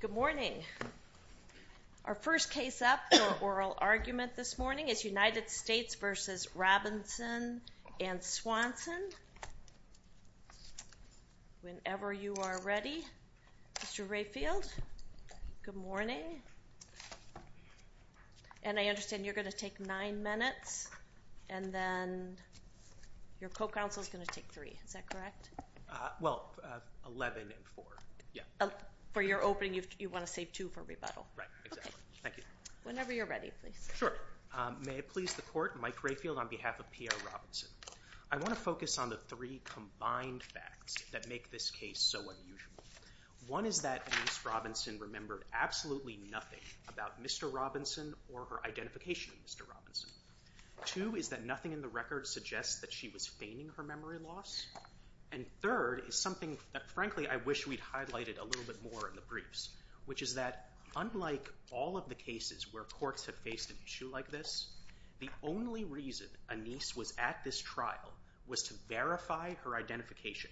Good morning. Our first case up for oral argument this morning is United States v. Robinson and Swanson. Whenever you are ready, Mr. Rayfield. Good morning. And I understand you're going to take 9 minutes and then your co-counsel is going to take 3. Is that correct? Well, 11 and 4. For your opening, you want to save 2 for rebuttal. Right, exactly. Thank you. Whenever you're ready, please. Sure. May it please the Court, Mike Rayfield on behalf of Pierre Robinson. I want to focus on the 3 combined facts that make this case so unusual. One is that Anise Robinson remembered absolutely nothing about Mr. Robinson or her identification of Mr. Robinson. Two is that nothing in the record suggests that she was feigning her memory loss. And third is something that frankly I wish we'd highlighted a little bit more in the briefs, which is that unlike all of the cases where courts have faced an issue like this, the only reason Anise was at this trial was to verify her identification.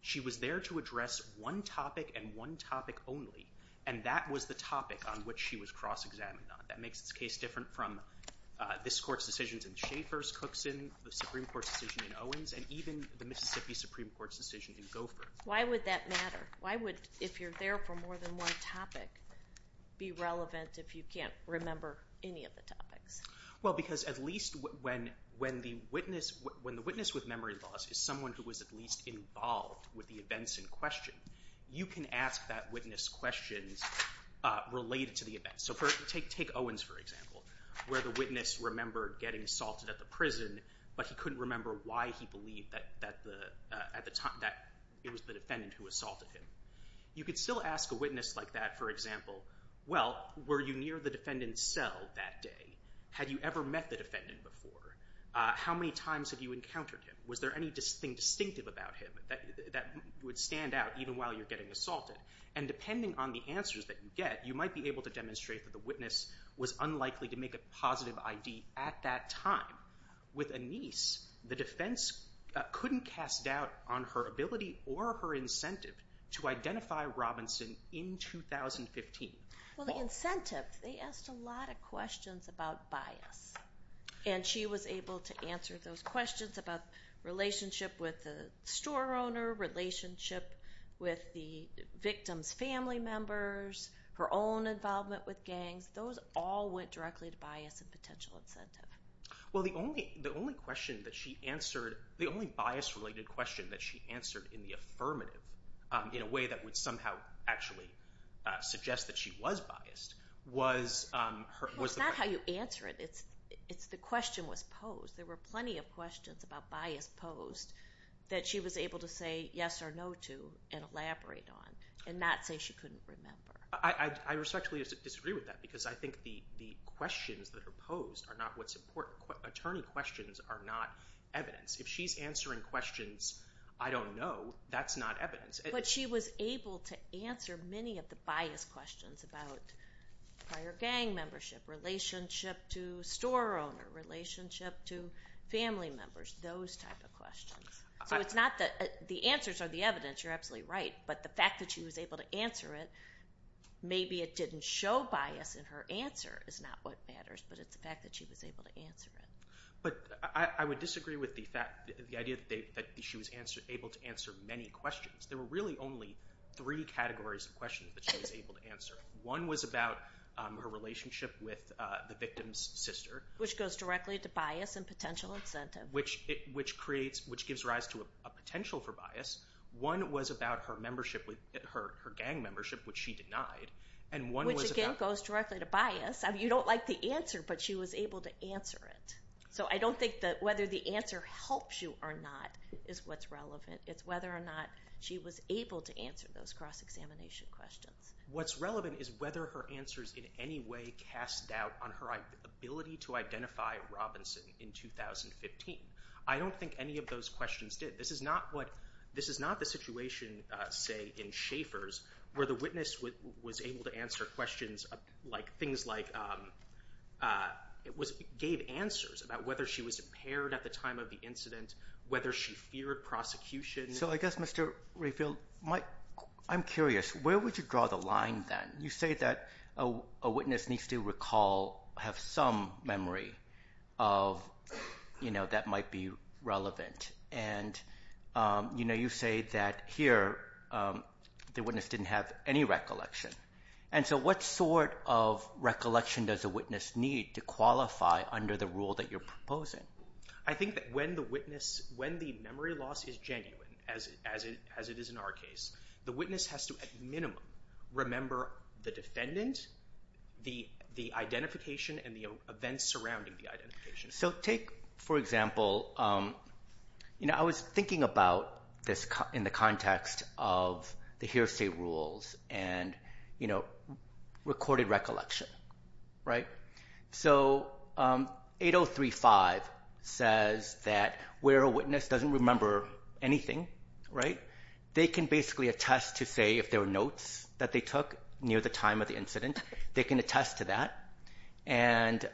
She was there to address one topic and one topic only, and that was the topic on which she was cross-examined on. That makes this case different from this Court's decisions in Schaeffer's Cookson, the Supreme Court's decision in Owens, and even the Mississippi Supreme Court's decision in Gopher. Why would that matter? Why would, if you're there for more than one topic, be relevant if you can't remember any of the topics? Well, because at least when the witness with memory loss is someone who was at least involved with the events in question, you can ask that witness questions related to the event. So take Owens, for example, where the witness remembered getting assaulted at the prison, but he couldn't remember why he believed that it was the defendant who assaulted him. You could still ask a witness like that, for example, well, were you near the defendant's cell that day? Had you ever met the defendant before? How many times have you encountered him? Was there anything distinctive about him that would stand out even while you're getting assaulted? And depending on the answers that you get, you might be able to demonstrate that the witness was unlikely to make a positive ID at that time. With Anise, the defense couldn't cast doubt on her ability or her incentive to identify Robinson in 2015. Well, the incentive, they asked a lot of questions about bias. And she was able to answer those questions about relationship with the store owner, relationship with the victim's family members, her own involvement with gangs. Those all went directly to bias and potential incentive. Well, the only question that she answered, the only bias-related question that she answered in the affirmative, in a way that would somehow actually suggest that she was biased, was the question. No, it's not how you answer it. It's the question was posed. There were plenty of questions about bias posed that she was able to say yes or no to and elaborate on and not say she couldn't remember. I respectfully disagree with that because I think the questions that are posed are not what's important. Attorney questions are not evidence. If she's answering questions, I don't know, that's not evidence. But she was able to answer many of the bias questions about prior gang membership, relationship to store owner, relationship to family members, those type of questions. So it's not that the answers are the evidence, you're absolutely right, but the fact that she was able to answer it, maybe it didn't show bias in her answer is not what matters, but it's the fact that she was able to answer it. But I would disagree with the fact, the idea that she was able to answer many questions. There were really only three categories of questions that she was able to answer. One was about her relationship with the victim's sister. Which goes directly to bias and potential incentive. Which creates, which gives rise to a potential for bias. One was about her gang membership, which she denied. Which again goes directly to bias. You don't like the answer, but she was able to answer it. So I don't think that whether the answer helps you or not is what's relevant. It's whether or not she was able to answer those cross-examination questions. What's relevant is whether her answers in any way cast doubt on her ability to identify Robinson in 2015. I don't think any of those questions did. This is not what, this is not the situation, say, in Schaeffer's, where the witness was able to answer questions, things like, gave answers about whether she was impaired at the time of the incident, whether she feared prosecution. So I guess, Mr. Rayfield, I'm curious, where would you draw the line then? You say that a witness needs to recall, have some memory of, you know, that might be relevant. And you say that here, the witness didn't have any recollection. And so what sort of recollection does a witness need to qualify under the rule that you're proposing? I think that when the memory loss is genuine, as it is in our case, the witness has to at minimum remember the defendant, the identification, and the events surrounding the identification. So take, for example, you know, I was thinking about this in the context of the hearsay rules and, you know, recorded recollection, right? So 8035 says that where a witness doesn't remember anything, right, they can basically attest to, say, if there were notes that they took near the time of the incident, they can attest to that. And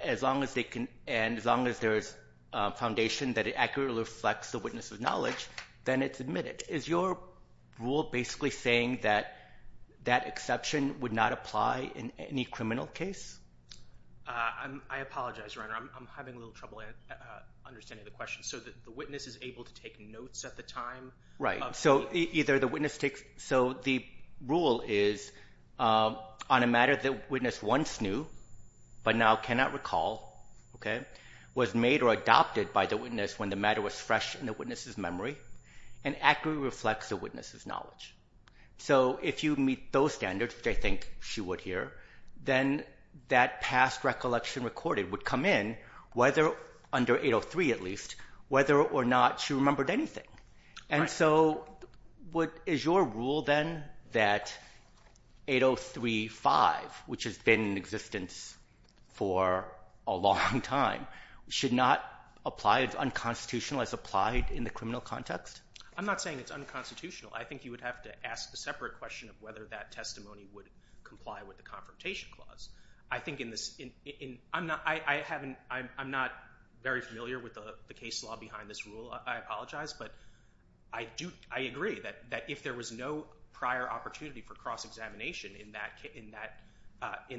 as long as they can, and as long as there's foundation that it accurately reflects the witness's knowledge, then it's admitted. Is your rule basically saying that that exception would not apply in any criminal case? I apologize, Your Honor. I'm having a little trouble understanding the question. So the witness is able to take notes at the time of the incident? Right. So either the witness takes – so the rule is on a matter the witness once knew but now cannot recall, okay, was made or adopted by the witness when the matter was fresh in the witness's memory and accurately reflects the witness's knowledge. So if you meet those standards, which I think she would here, then that past recollection recorded would come in whether – under 803 at least – whether or not she remembered anything. And so is your rule then that 8035, which has been in existence for a long time, should not apply – it's unconstitutional as applied in the criminal context? I'm not saying it's unconstitutional. I think you would have to ask a separate question of whether that testimony would comply with the Confrontation Clause. I think in this – I haven't – I'm not very familiar with the case law behind this rule, I apologize, but I do – I agree that if there was no prior opportunity for cross-examination in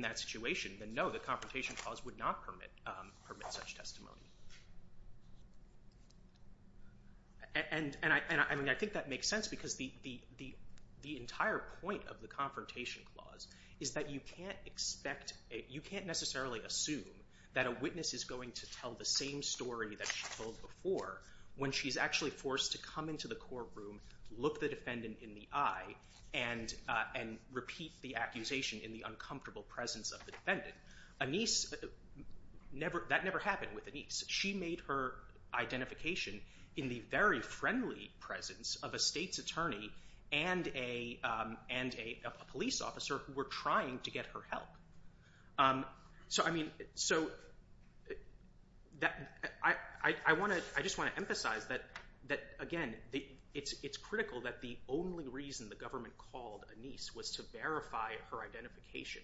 that situation, then no, the Confrontation Clause would not permit such testimony. And I think that makes sense because the entire point of the Confrontation Clause is that you can't expect – you can't necessarily assume that a witness is going to tell the same story that she told before when she's actually forced to come into the courtroom, look the defendant in the eye, and repeat the accusation in the uncomfortable presence of the defendant. Anise – that never happened with Anise. She made her identification in the very friendly presence of a state's attorney and a police officer who were trying to get her help. So I mean – so I want to – I just want to emphasize that, again, it's critical that the only reason the government called Anise was to verify her identification.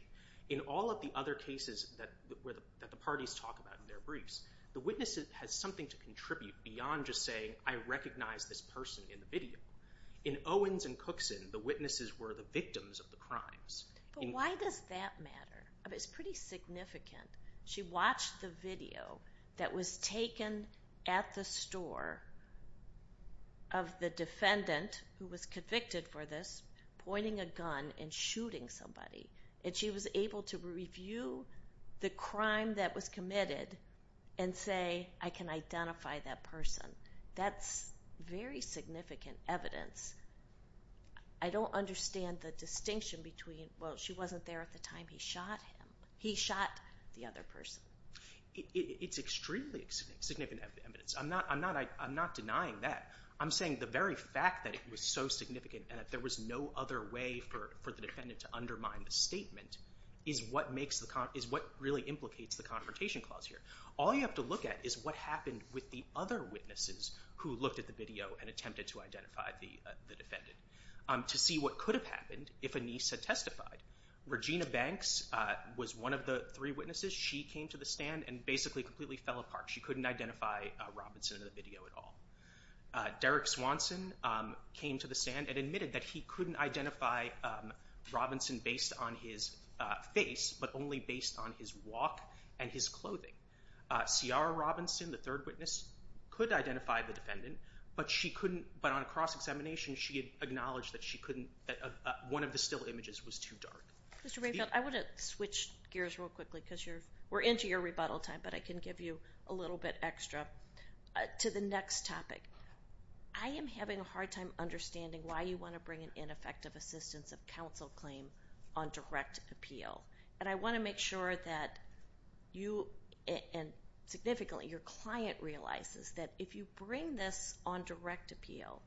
In all of the other cases that the parties talk about in their briefs, the witness has something to contribute beyond just saying, I recognize this person in the video. In Owens and Cookson, the witnesses were the victims of the crimes. But why does that matter? I mean, it's pretty significant. She watched the video that was taken at the store of the defendant who was convicted for this pointing a gun and shooting somebody. And she was able to review the crime that was committed and say, I can identify that person. That's very significant evidence. I don't understand the distinction between, well, she wasn't there at the time he shot him. He shot the other person. It's extremely significant evidence. I'm not denying that. I'm saying the very fact that it was so significant and that there was no other way for the defendant to undermine the statement is what makes the – is what really implicates the Confrontation Clause here. All you have to look at is what happened with the other witnesses who looked at the video and attempted to identify the defendant to see what could have happened if Anise had testified. Regina Banks was one of the three witnesses. She came to the stand and basically completely fell apart. She couldn't identify Robinson in the video at all. Derek Swanson came to the stand and admitted that he couldn't identify Robinson based on his face but only based on his walk and his clothing. Ciara Robinson, the third witness, could identify the defendant, but she couldn't – but on a cross-examination she had acknowledged that she couldn't – that one of the still images was too dark. Mr. Mayfield, I want to switch gears real quickly because you're – we're into your rebuttal time, but I can give you a little bit extra. To the next topic, I am having a hard time understanding why you want to bring an ineffective assistance of counsel claim on direct appeal. And I want to make sure that you – and significantly your client realizes that if you bring this on direct appeal,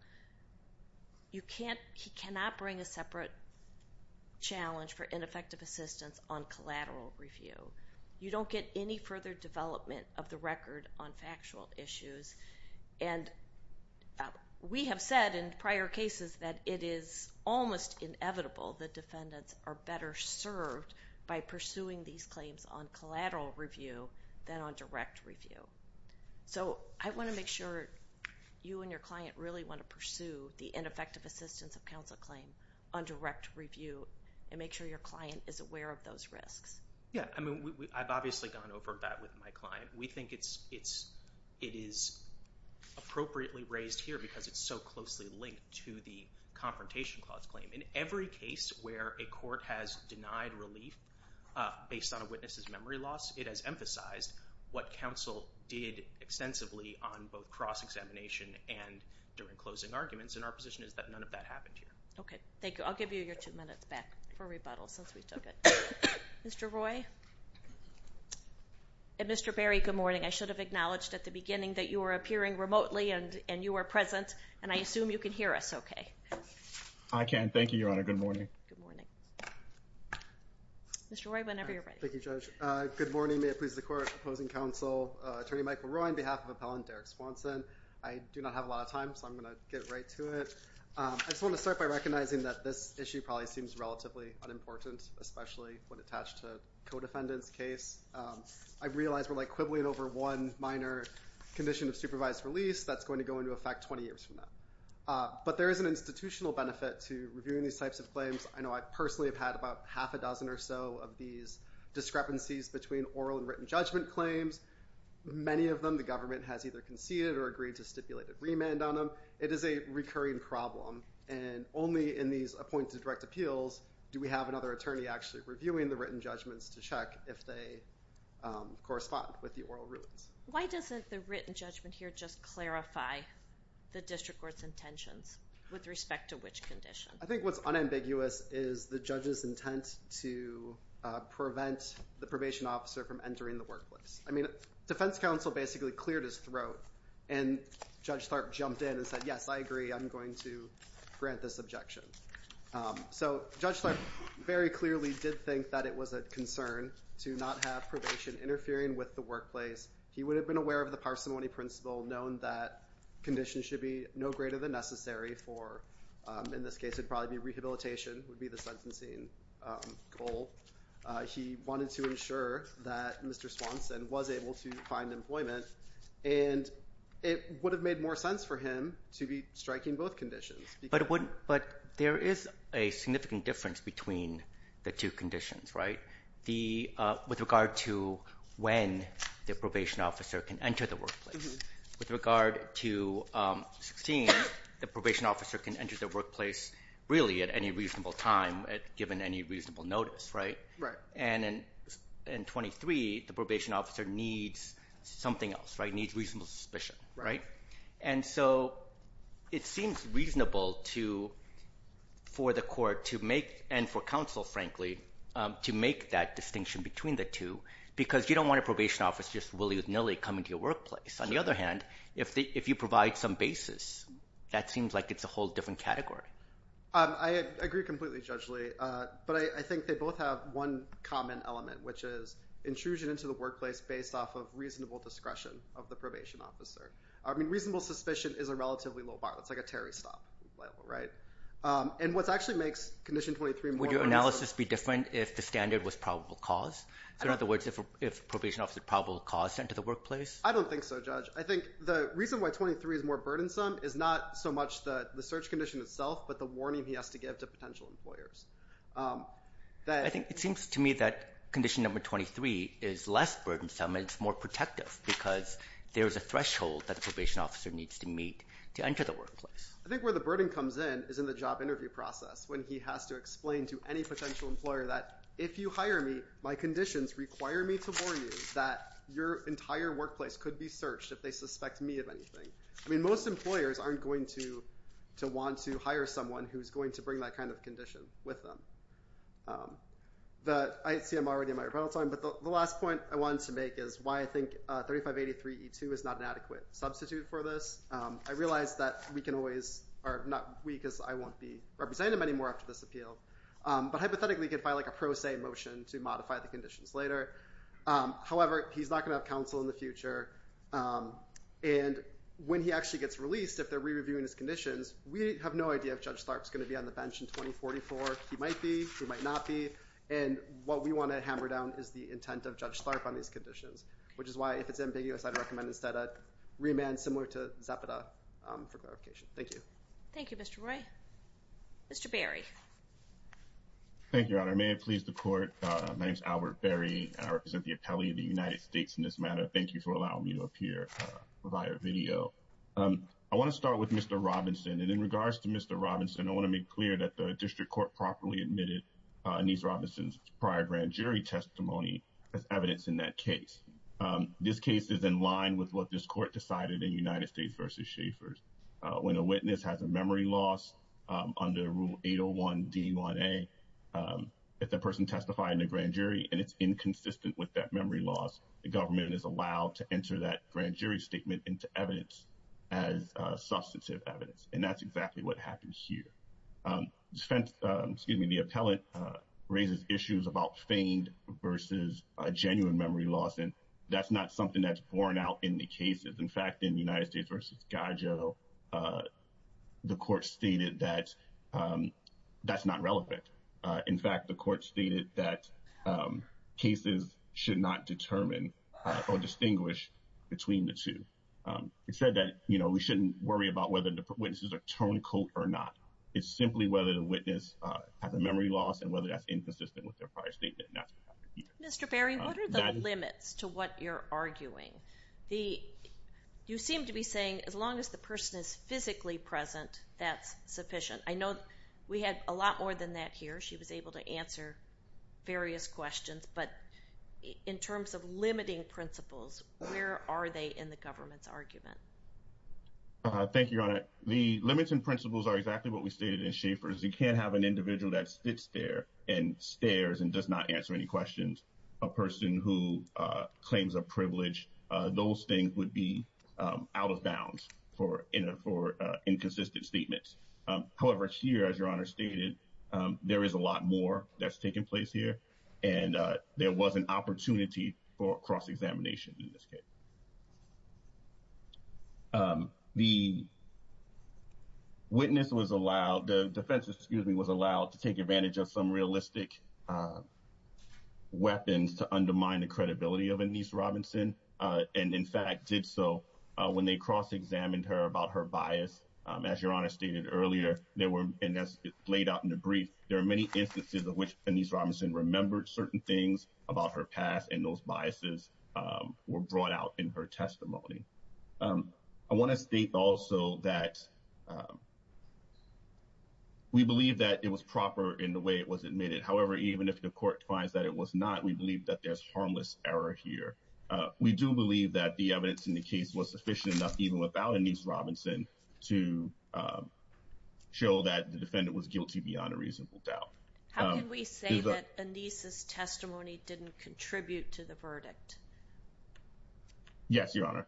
you can't – he cannot bring a separate challenge for ineffective assistance on collateral review. You don't get any further development of the record on factual issues. And we have said in prior cases that it is almost inevitable that defendants are better served by pursuing these claims on collateral review than on direct review. So I want to make sure you and your client really want to pursue the ineffective assistance of counsel claim on direct review and make sure your client is aware of those risks. Yeah. I mean, I've obviously gone over that with my client. We think it is appropriately raised here because it's so closely linked to the confrontation clause claim. In every case where a court has denied relief based on a witness's memory loss, it has emphasized what counsel did extensively on both cross-examination and during closing arguments. And our position is that none of that happened here. Okay. Thank you. I'll give you your two minutes back for rebuttal since we took it. Mr. Roy and Mr. Berry, good morning. I should have acknowledged at the beginning that you were appearing remotely and you were present, and I assume you can hear us okay. I can. Thank you, Your Honor. Good morning. Good morning. Mr. Roy, whenever you're ready. Thank you, Judge. Good morning. May it please the Court. Opposing counsel, Attorney Michael Roy on behalf of Appellant Derek Swanson. I do not have a lot of time, so I'm going to get right to it. I just want to start by recognizing that this issue probably seems relatively unimportant, especially when attached to a co-defendant's case. I realize we're like quibbling over one minor condition of supervised release. That's going to go into effect 20 years from now. But there is an institutional benefit to reviewing these types of claims. I know I personally have had about half a dozen or so of these discrepancies between oral and written judgment claims. Many of them the government has either conceded or agreed to stipulate a remand on them. It is a recurring problem, and only in these appointed direct appeals do we have another attorney actually reviewing the written judgments to check if they correspond with the oral rulings. Why doesn't the written judgment here just clarify the district court's intentions with respect to which condition? I think what's unambiguous is the judge's intent to prevent the probation officer from entering the workplace. I mean, defense counsel basically cleared his throat, and Judge Tharp jumped in and said, yes, I agree, I'm going to grant this objection. So Judge Tharp very clearly did think that it was a concern to not have probation interfering with the workplace. He would have been aware of the parsimony principle, known that conditions should be no greater than necessary for, in this case it would probably be rehabilitation would be the sentencing goal. He wanted to ensure that Mr. Swanson was able to find employment, and it would have made more sense for him to be striking both conditions. But there is a significant difference between the two conditions, right, with regard to when the probation officer can enter the workplace. With regard to 16, the probation officer can enter the workplace really at any reasonable time given any reasonable notice, right? And in 23, the probation officer needs something else, right, needs reasonable suspicion, right? And so it seems reasonable for the court to make, and for counsel, frankly, to make that distinction between the two because you don't want a probation officer just willy-nilly coming to your workplace. On the other hand, if you provide some basis, that seems like it's a whole different category. I agree completely, Judge Lee. But I think they both have one common element, which is intrusion into the workplace based off of reasonable discretion of the probation officer. I mean reasonable suspicion is a relatively low bar. It's like a Terry stop, right? And what actually makes condition 23 more reasonable Would your analysis be different if the standard was probable cause? So in other words, if probation officer probable cause to enter the workplace? I don't think so, Judge. I think the reason why 23 is more burdensome is not so much the search condition itself but the warning he has to give to potential employers. I think it seems to me that condition number 23 is less burdensome and it's more protective because there's a threshold that the probation officer needs to meet to enter the workplace. I think where the burden comes in is in the job interview process when he has to explain to any potential employer that if you hire me, my conditions require me to warn you that your entire workplace could be searched if they suspect me of anything. I mean most employers aren't going to want to hire someone who's going to bring that kind of condition with them. I see I'm already in my rebuttal time, but the last point I wanted to make is why I think 3583E2 is not an adequate substitute for this. I realize that we can always, or not we because I won't be representing him anymore after this appeal, but hypothetically he could file a pro se motion to modify the conditions later. However, he's not going to have counsel in the future, and when he actually gets released, if they're re-reviewing his conditions, we have no idea if Judge Starpe is going to be on the bench in 2044. He might be, he might not be, and what we want to hammer down is the intent of Judge Starpe on these conditions, which is why if it's ambiguous, I'd recommend instead a remand similar to Zapata for clarification. Thank you. Thank you, Mr. Roy. Mr. Berry. Thank you, Your Honor. May it please the Court, my name is Albert Berry. I represent the appellee of the United States in this matter. Thank you for allowing me to appear via video. I want to start with Mr. Robinson, and in regards to Mr. Robinson, I want to make clear that the district court properly admitted Anise Robinson's prior grand jury testimony as evidence in that case. This case is in line with what this court decided in United States v. Schaffer's. When a witness has a memory loss under Rule 801 D1A, if the person testified in a grand jury and it's inconsistent with that memory loss, the government is allowed to enter that grand jury statement into evidence as substantive evidence, and that's exactly what happens here. The appellant raises issues about feigned versus genuine memory loss, and that's not something that's borne out in the cases. In fact, in United States v. Gadjo, the court stated that that's not relevant. In fact, the court stated that cases should not determine or distinguish between the two. It said that we shouldn't worry about whether the witnesses are tonical or not. It's simply whether the witness has a memory loss and whether that's inconsistent with their prior statement, and that's what happens here. Mr. Berry, what are the limits to what you're arguing? You seem to be saying as long as the person is physically present, that's sufficient. I know we had a lot more than that here. She was able to answer various questions, but in terms of limiting principles, where are they in the government's argument? Thank you, Your Honor. The limits and principles are exactly what we stated in Schaffer's. You can't have an individual that sits there and stares and does not answer any questions, a person who claims a privilege. Those things would be out of bounds for inconsistent statements. However, here, as Your Honor stated, there is a lot more that's taken place here, and there was an opportunity for cross-examination in this case. The witness was allowed, the defense was allowed to take advantage of some realistic weapons to undermine the credibility of Anise Robinson, and in fact did so when they cross-examined her about her bias. As Your Honor stated earlier, and as laid out in the brief, there are many instances in which Anise Robinson remembered certain things about her past, and those biases were brought out in her testimony. I want to state also that we believe that it was proper in the way it was admitted. However, even if the court finds that it was not, we believe that there's harmless error here. We do believe that the evidence in the case was sufficient enough, even without Anise Robinson, to show that the defendant was guilty beyond a reasonable doubt. How can we say that Anise's testimony didn't contribute to the verdict? Yes, Your Honor.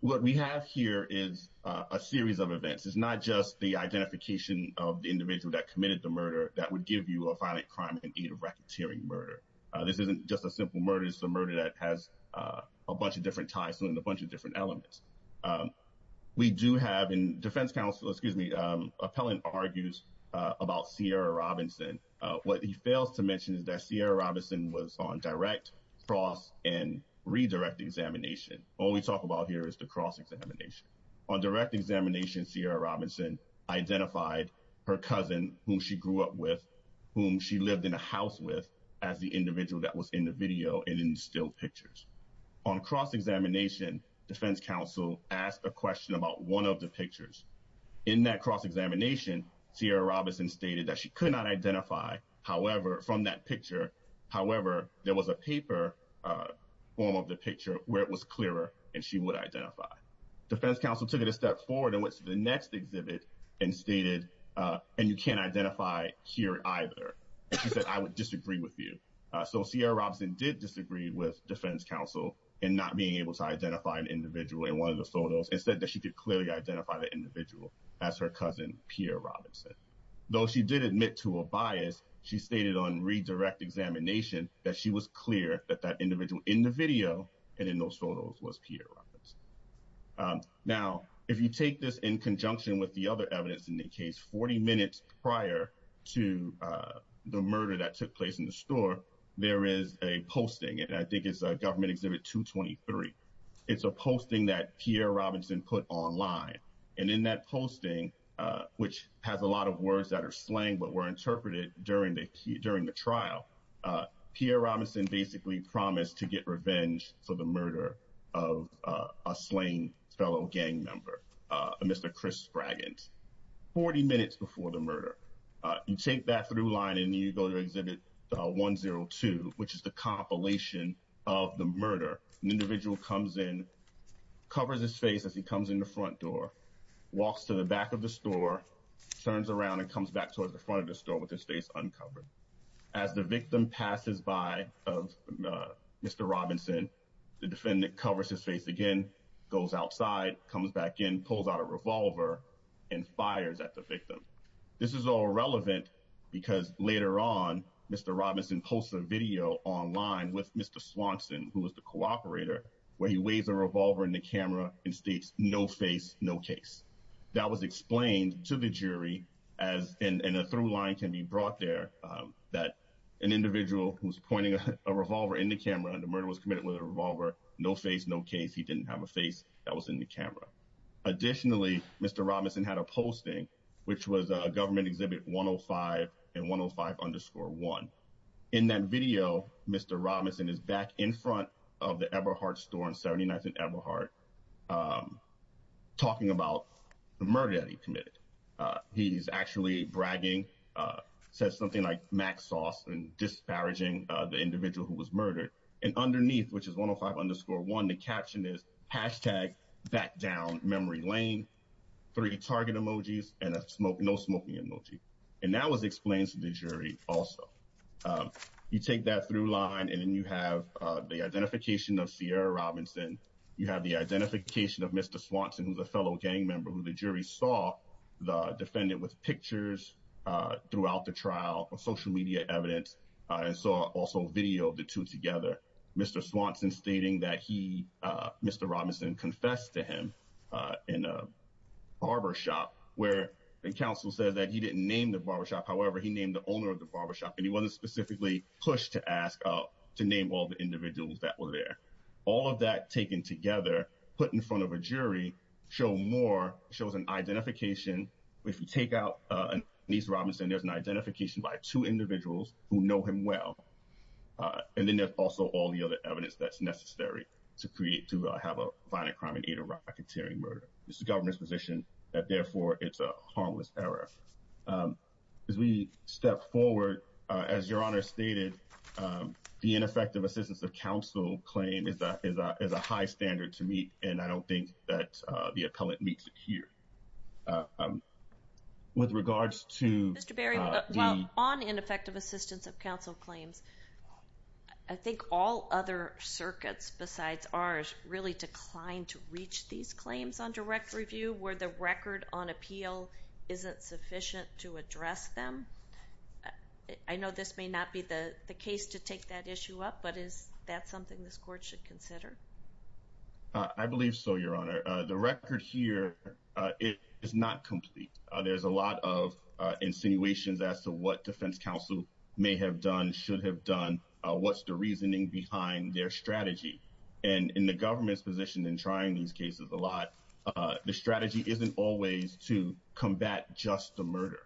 What we have here is a series of events. It's not just the identification of the individual that committed the murder that would give you a violent crime and aid of racketeering murder. This isn't just a simple murder. It's a murder that has a bunch of different ties to it and a bunch of different elements. We do have in defense counsel, excuse me, appellant argues about Sierra Robinson. What he fails to mention is that Sierra Robinson was on direct, cross, and redirect examination. All we talk about here is the cross examination. On direct examination, Sierra Robinson identified her cousin, whom she grew up with, whom she lived in a house with as the individual that was in the video and in still pictures. On cross examination, defense counsel asked a question about one of the pictures. In that cross examination, Sierra Robinson stated that she could not identify, however, from that picture. However, there was a paper form of the picture where it was clearer and she would identify. Defense counsel took it a step forward and went to the next exhibit and stated, and you can't identify here either. She said, I would disagree with you. So Sierra Robinson did disagree with defense counsel in not being able to identify an individual in one of the photos and said that she could clearly identify the individual as her cousin, Pierre Robinson. Though she did admit to a bias, she stated on redirect examination that she was clear that that individual in the video and in those photos was Pierre Robinson. Now, if you take this in conjunction with the other evidence in the case, 40 minutes prior to the murder that took place in the store, there is a posting, and I think it's a government exhibit 223. It's a posting that Pierre Robinson put online. And in that posting, which has a lot of words that are slang, but were interpreted during the trial, Pierre Robinson basically promised to get revenge for the murder of a slain fellow gang member, Mr. Chris Braggins. 40 minutes before the murder, you take that through line and you go to exhibit 102, which is the compilation of the murder. An individual comes in, covers his face as he comes in the front door, walks to the back of the store, turns around and comes back towards the front of the store with his face uncovered. As the victim passes by of Mr. Robinson, the defendant covers his face again, goes outside, comes back in, pulls out a revolver and fires at the victim. This is all relevant because later on, Mr. Robinson posted a video online with Mr. Swanson, who was the cooperator, where he waves a revolver in the camera and states no face, no case. That was explained to the jury as in a through line can be brought there, that an individual who was pointing a revolver in the camera and the murder was committed with a revolver, no face, no case, he didn't have a face that was in the camera. Additionally, Mr. Robinson had a posting, which was a government exhibit 105 and 105 underscore one. In that video, Mr. Robinson is back in front of the Eberhardt store on Saturday night at Eberhardt, talking about the murder that he committed. He's actually bragging, says something like Mac sauce and disparaging the individual who was murdered. And underneath, which is 105 underscore one, the caption is hashtag back down memory lane, three target emojis and a smoke, no smoking emoji. And that was explained to the jury. Also, you take that through line and then you have the identification of Sierra Robinson. You have the identification of Mr. Swanson, who's a fellow gang member who the jury saw the defendant with pictures throughout the trial of social media evidence and saw also video of the two together. Mr. Swanson stating that he Mr. Robinson confessed to him in a barbershop where the council said that he didn't name the barbershop. However, he named the owner of the barbershop and he wasn't specifically pushed to ask to name all the individuals that were there. All of that taken together, put in front of a jury show more shows an identification. If you take out these Robinson, there's an identification by two individuals who know him well. And then there's also all the other evidence that's necessary to create, to have a violent crime and eat a racketeering murder. This is the government's position that therefore it's a harmless error. As we step forward, as your honor stated, the ineffective assistance of counsel claim is that is that is a high standard to meet. And I don't think that the appellant meets it here with regards to Mr. Berry on ineffective assistance of counsel claims. I think all other circuits besides ours really declined to reach these claims on direct review where the record on appeal isn't sufficient to address them. I know this may not be the case to take that issue up, but is that something this court should consider? I believe so, your honor. The record here is not complete. There's a lot of insinuations as to what defense counsel may have done, should have done. What's the reasoning behind their strategy and in the government's position in trying these cases a lot? The strategy isn't always to combat just the murder,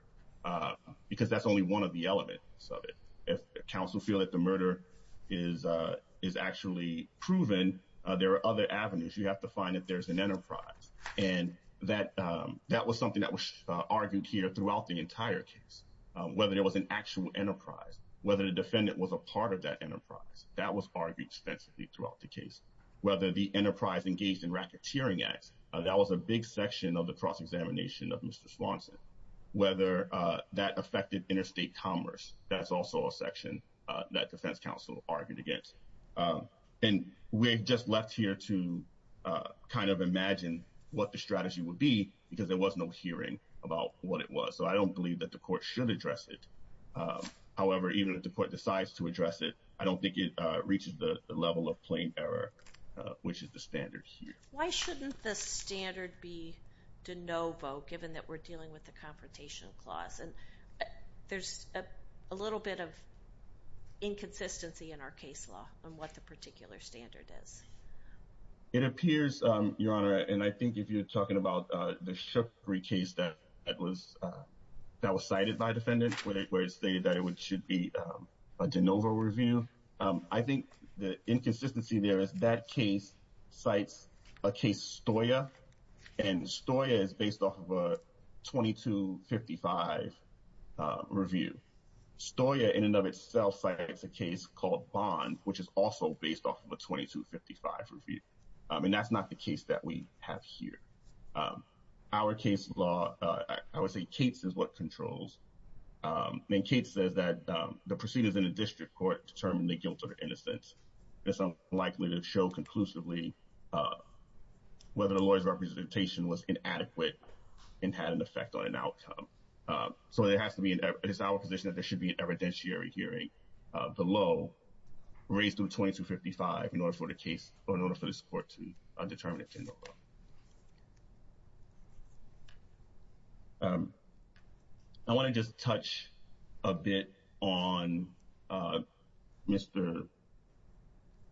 because that's only one of the elements of it. If counsel feel that the murder is is actually proven, there are other avenues. You have to find that there's an enterprise and that that was something that was argued here throughout the entire case, whether it was an actual enterprise, whether the defendant was a part of that enterprise that was argued extensively throughout the case, whether the enterprise engaged in racketeering. That was a big section of the cross examination of Mr. Swanson, whether that affected interstate commerce. That's also a section that defense counsel argued against. And we just left here to kind of imagine what the strategy would be because there was no hearing about what it was. So I don't believe that the court should address it. However, even if the court decides to address it, I don't think it reaches the level of plain error, which is the standard. Why shouldn't the standard be de novo, given that we're dealing with the confrontation clause? And there's a little bit of inconsistency in our case law on what the particular standard is. It appears, Your Honor, and I think if you're talking about the Shookery case that was that was cited by defendants, where it was stated that it should be a de novo review. I think the inconsistency there is that case cites a case, Stoya, and Stoya is based off of a 2255 review. Stoya in and of itself cites a case called Bond, which is also based off of a 2255 review. And that's not the case that we have here. Our case law, I would say Cates is what controls. Cates says that the proceedings in the district court determine the guilt or innocence. It's unlikely to show conclusively whether the lawyer's representation was inadequate and had an effect on an outcome. So it has to be in our position that there should be an evidentiary hearing below, raised to 2255 in order for the case or in order for this court to determine a de novo. I want to just touch a bit on Mr.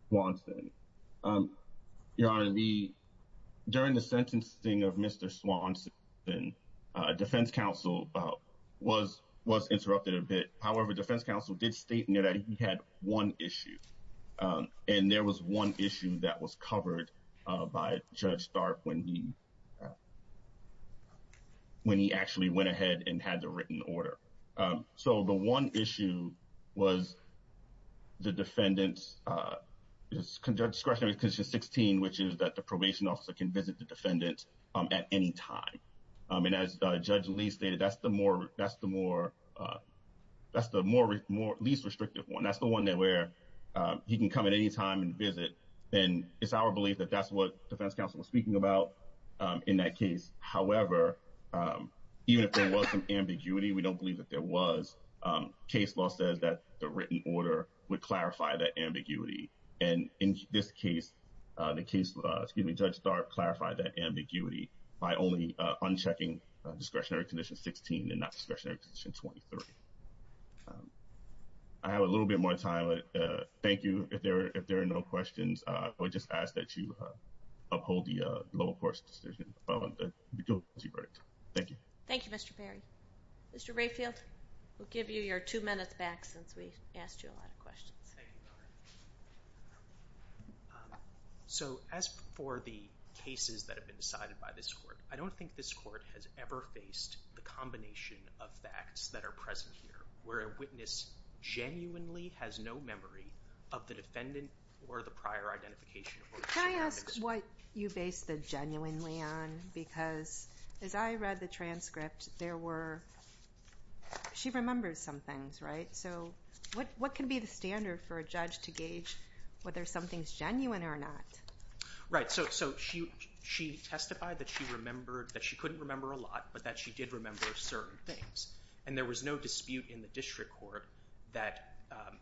Swanson. Your Honor, during the sentencing of Mr. Swanson, defense counsel was was interrupted a bit. However, defense counsel did state that he had one issue. And there was one issue that was covered by Judge Stark when he when he actually went ahead and had the written order. So the one issue was the defendant's discretionary condition 16, which is that the probation officer can visit the defendant at any time. I mean, as Judge Lee stated, that's the more that's the more that's the more more least restrictive one. That's the one that where he can come at any time and visit. And it's our belief that that's what defense counsel was speaking about in that case. However, even if there was some ambiguity, we don't believe that there was. Case law says that the written order would clarify that ambiguity. And in this case, the case, excuse me, Judge Stark clarified that ambiguity by only unchecking discretionary condition 16 and not discretionary condition 23. I have a little bit more time. But thank you. If there if there are no questions, I would just ask that you uphold the low court's decision. Thank you. Thank you, Mr. Perry. Mr. Rayfield, we'll give you your two minutes back since we asked you a lot of questions. So as for the cases that have been decided by this court, I don't think this court has ever faced the combination of facts that are present here. Where a witness genuinely has no memory of the defendant or the prior identification. Can I ask what you base the genuinely on? Because as I read the transcript, there were. She remembers some things. Right. So what what can be the standard for a judge to gauge whether something's genuine or not? Right. So so she she testified that she remembered that she couldn't remember a lot, but that she did remember certain things. And there was no dispute in the district court that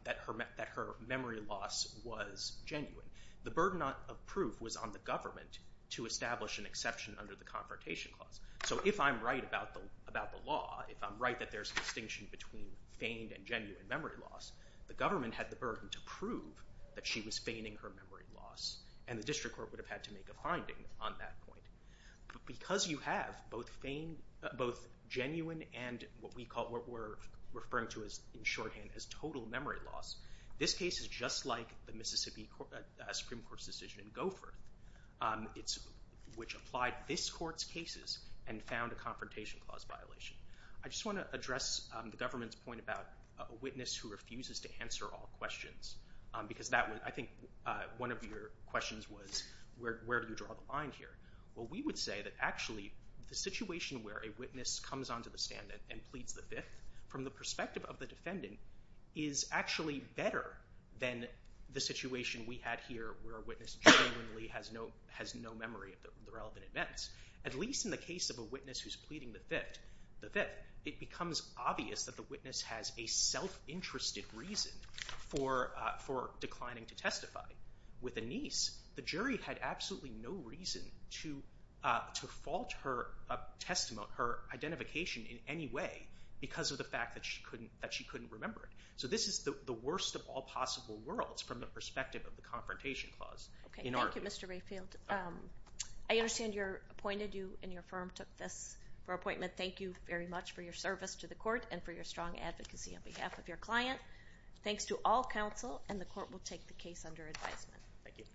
that her that her memory loss was genuine. The burden of proof was on the government to establish an exception under the Confrontation Clause. So if I'm right about the about the law, if I'm right, that there's a distinction between feigned and genuine memory loss. The government had the burden to prove that she was feigning her memory loss and the district court would have had to make a finding on that point. But because you have both feigned, both genuine and what we call what we're referring to as in shorthand as total memory loss. This case is just like the Mississippi Supreme Court's decision in Goforth. It's which applied this court's cases and found a Confrontation Clause violation. I just want to address the government's point about a witness who refuses to answer all questions because that I think one of your questions was, where do you draw the line here? Well, we would say that actually the situation where a witness comes onto the stand and pleads the fifth from the perspective of the defendant is actually better than the situation we had here where a witness genuinely has no has no memory of the relevant events. At least in the case of a witness who's pleading the fifth, the fifth, it becomes obvious that the witness has a self-interested reason for for declining to testify. With a niece, the jury had absolutely no reason to fault her testimony, her identification in any way because of the fact that she couldn't remember it. So this is the worst of all possible worlds from the perspective of the Confrontation Clause. Okay, thank you Mr. Rayfield. I understand you're appointed, you and your firm took this for appointment. Thank you very much for your service to the court and for your strong advocacy on behalf of your client. Thanks to all counsel and the court will take the case under advisement. Thank you.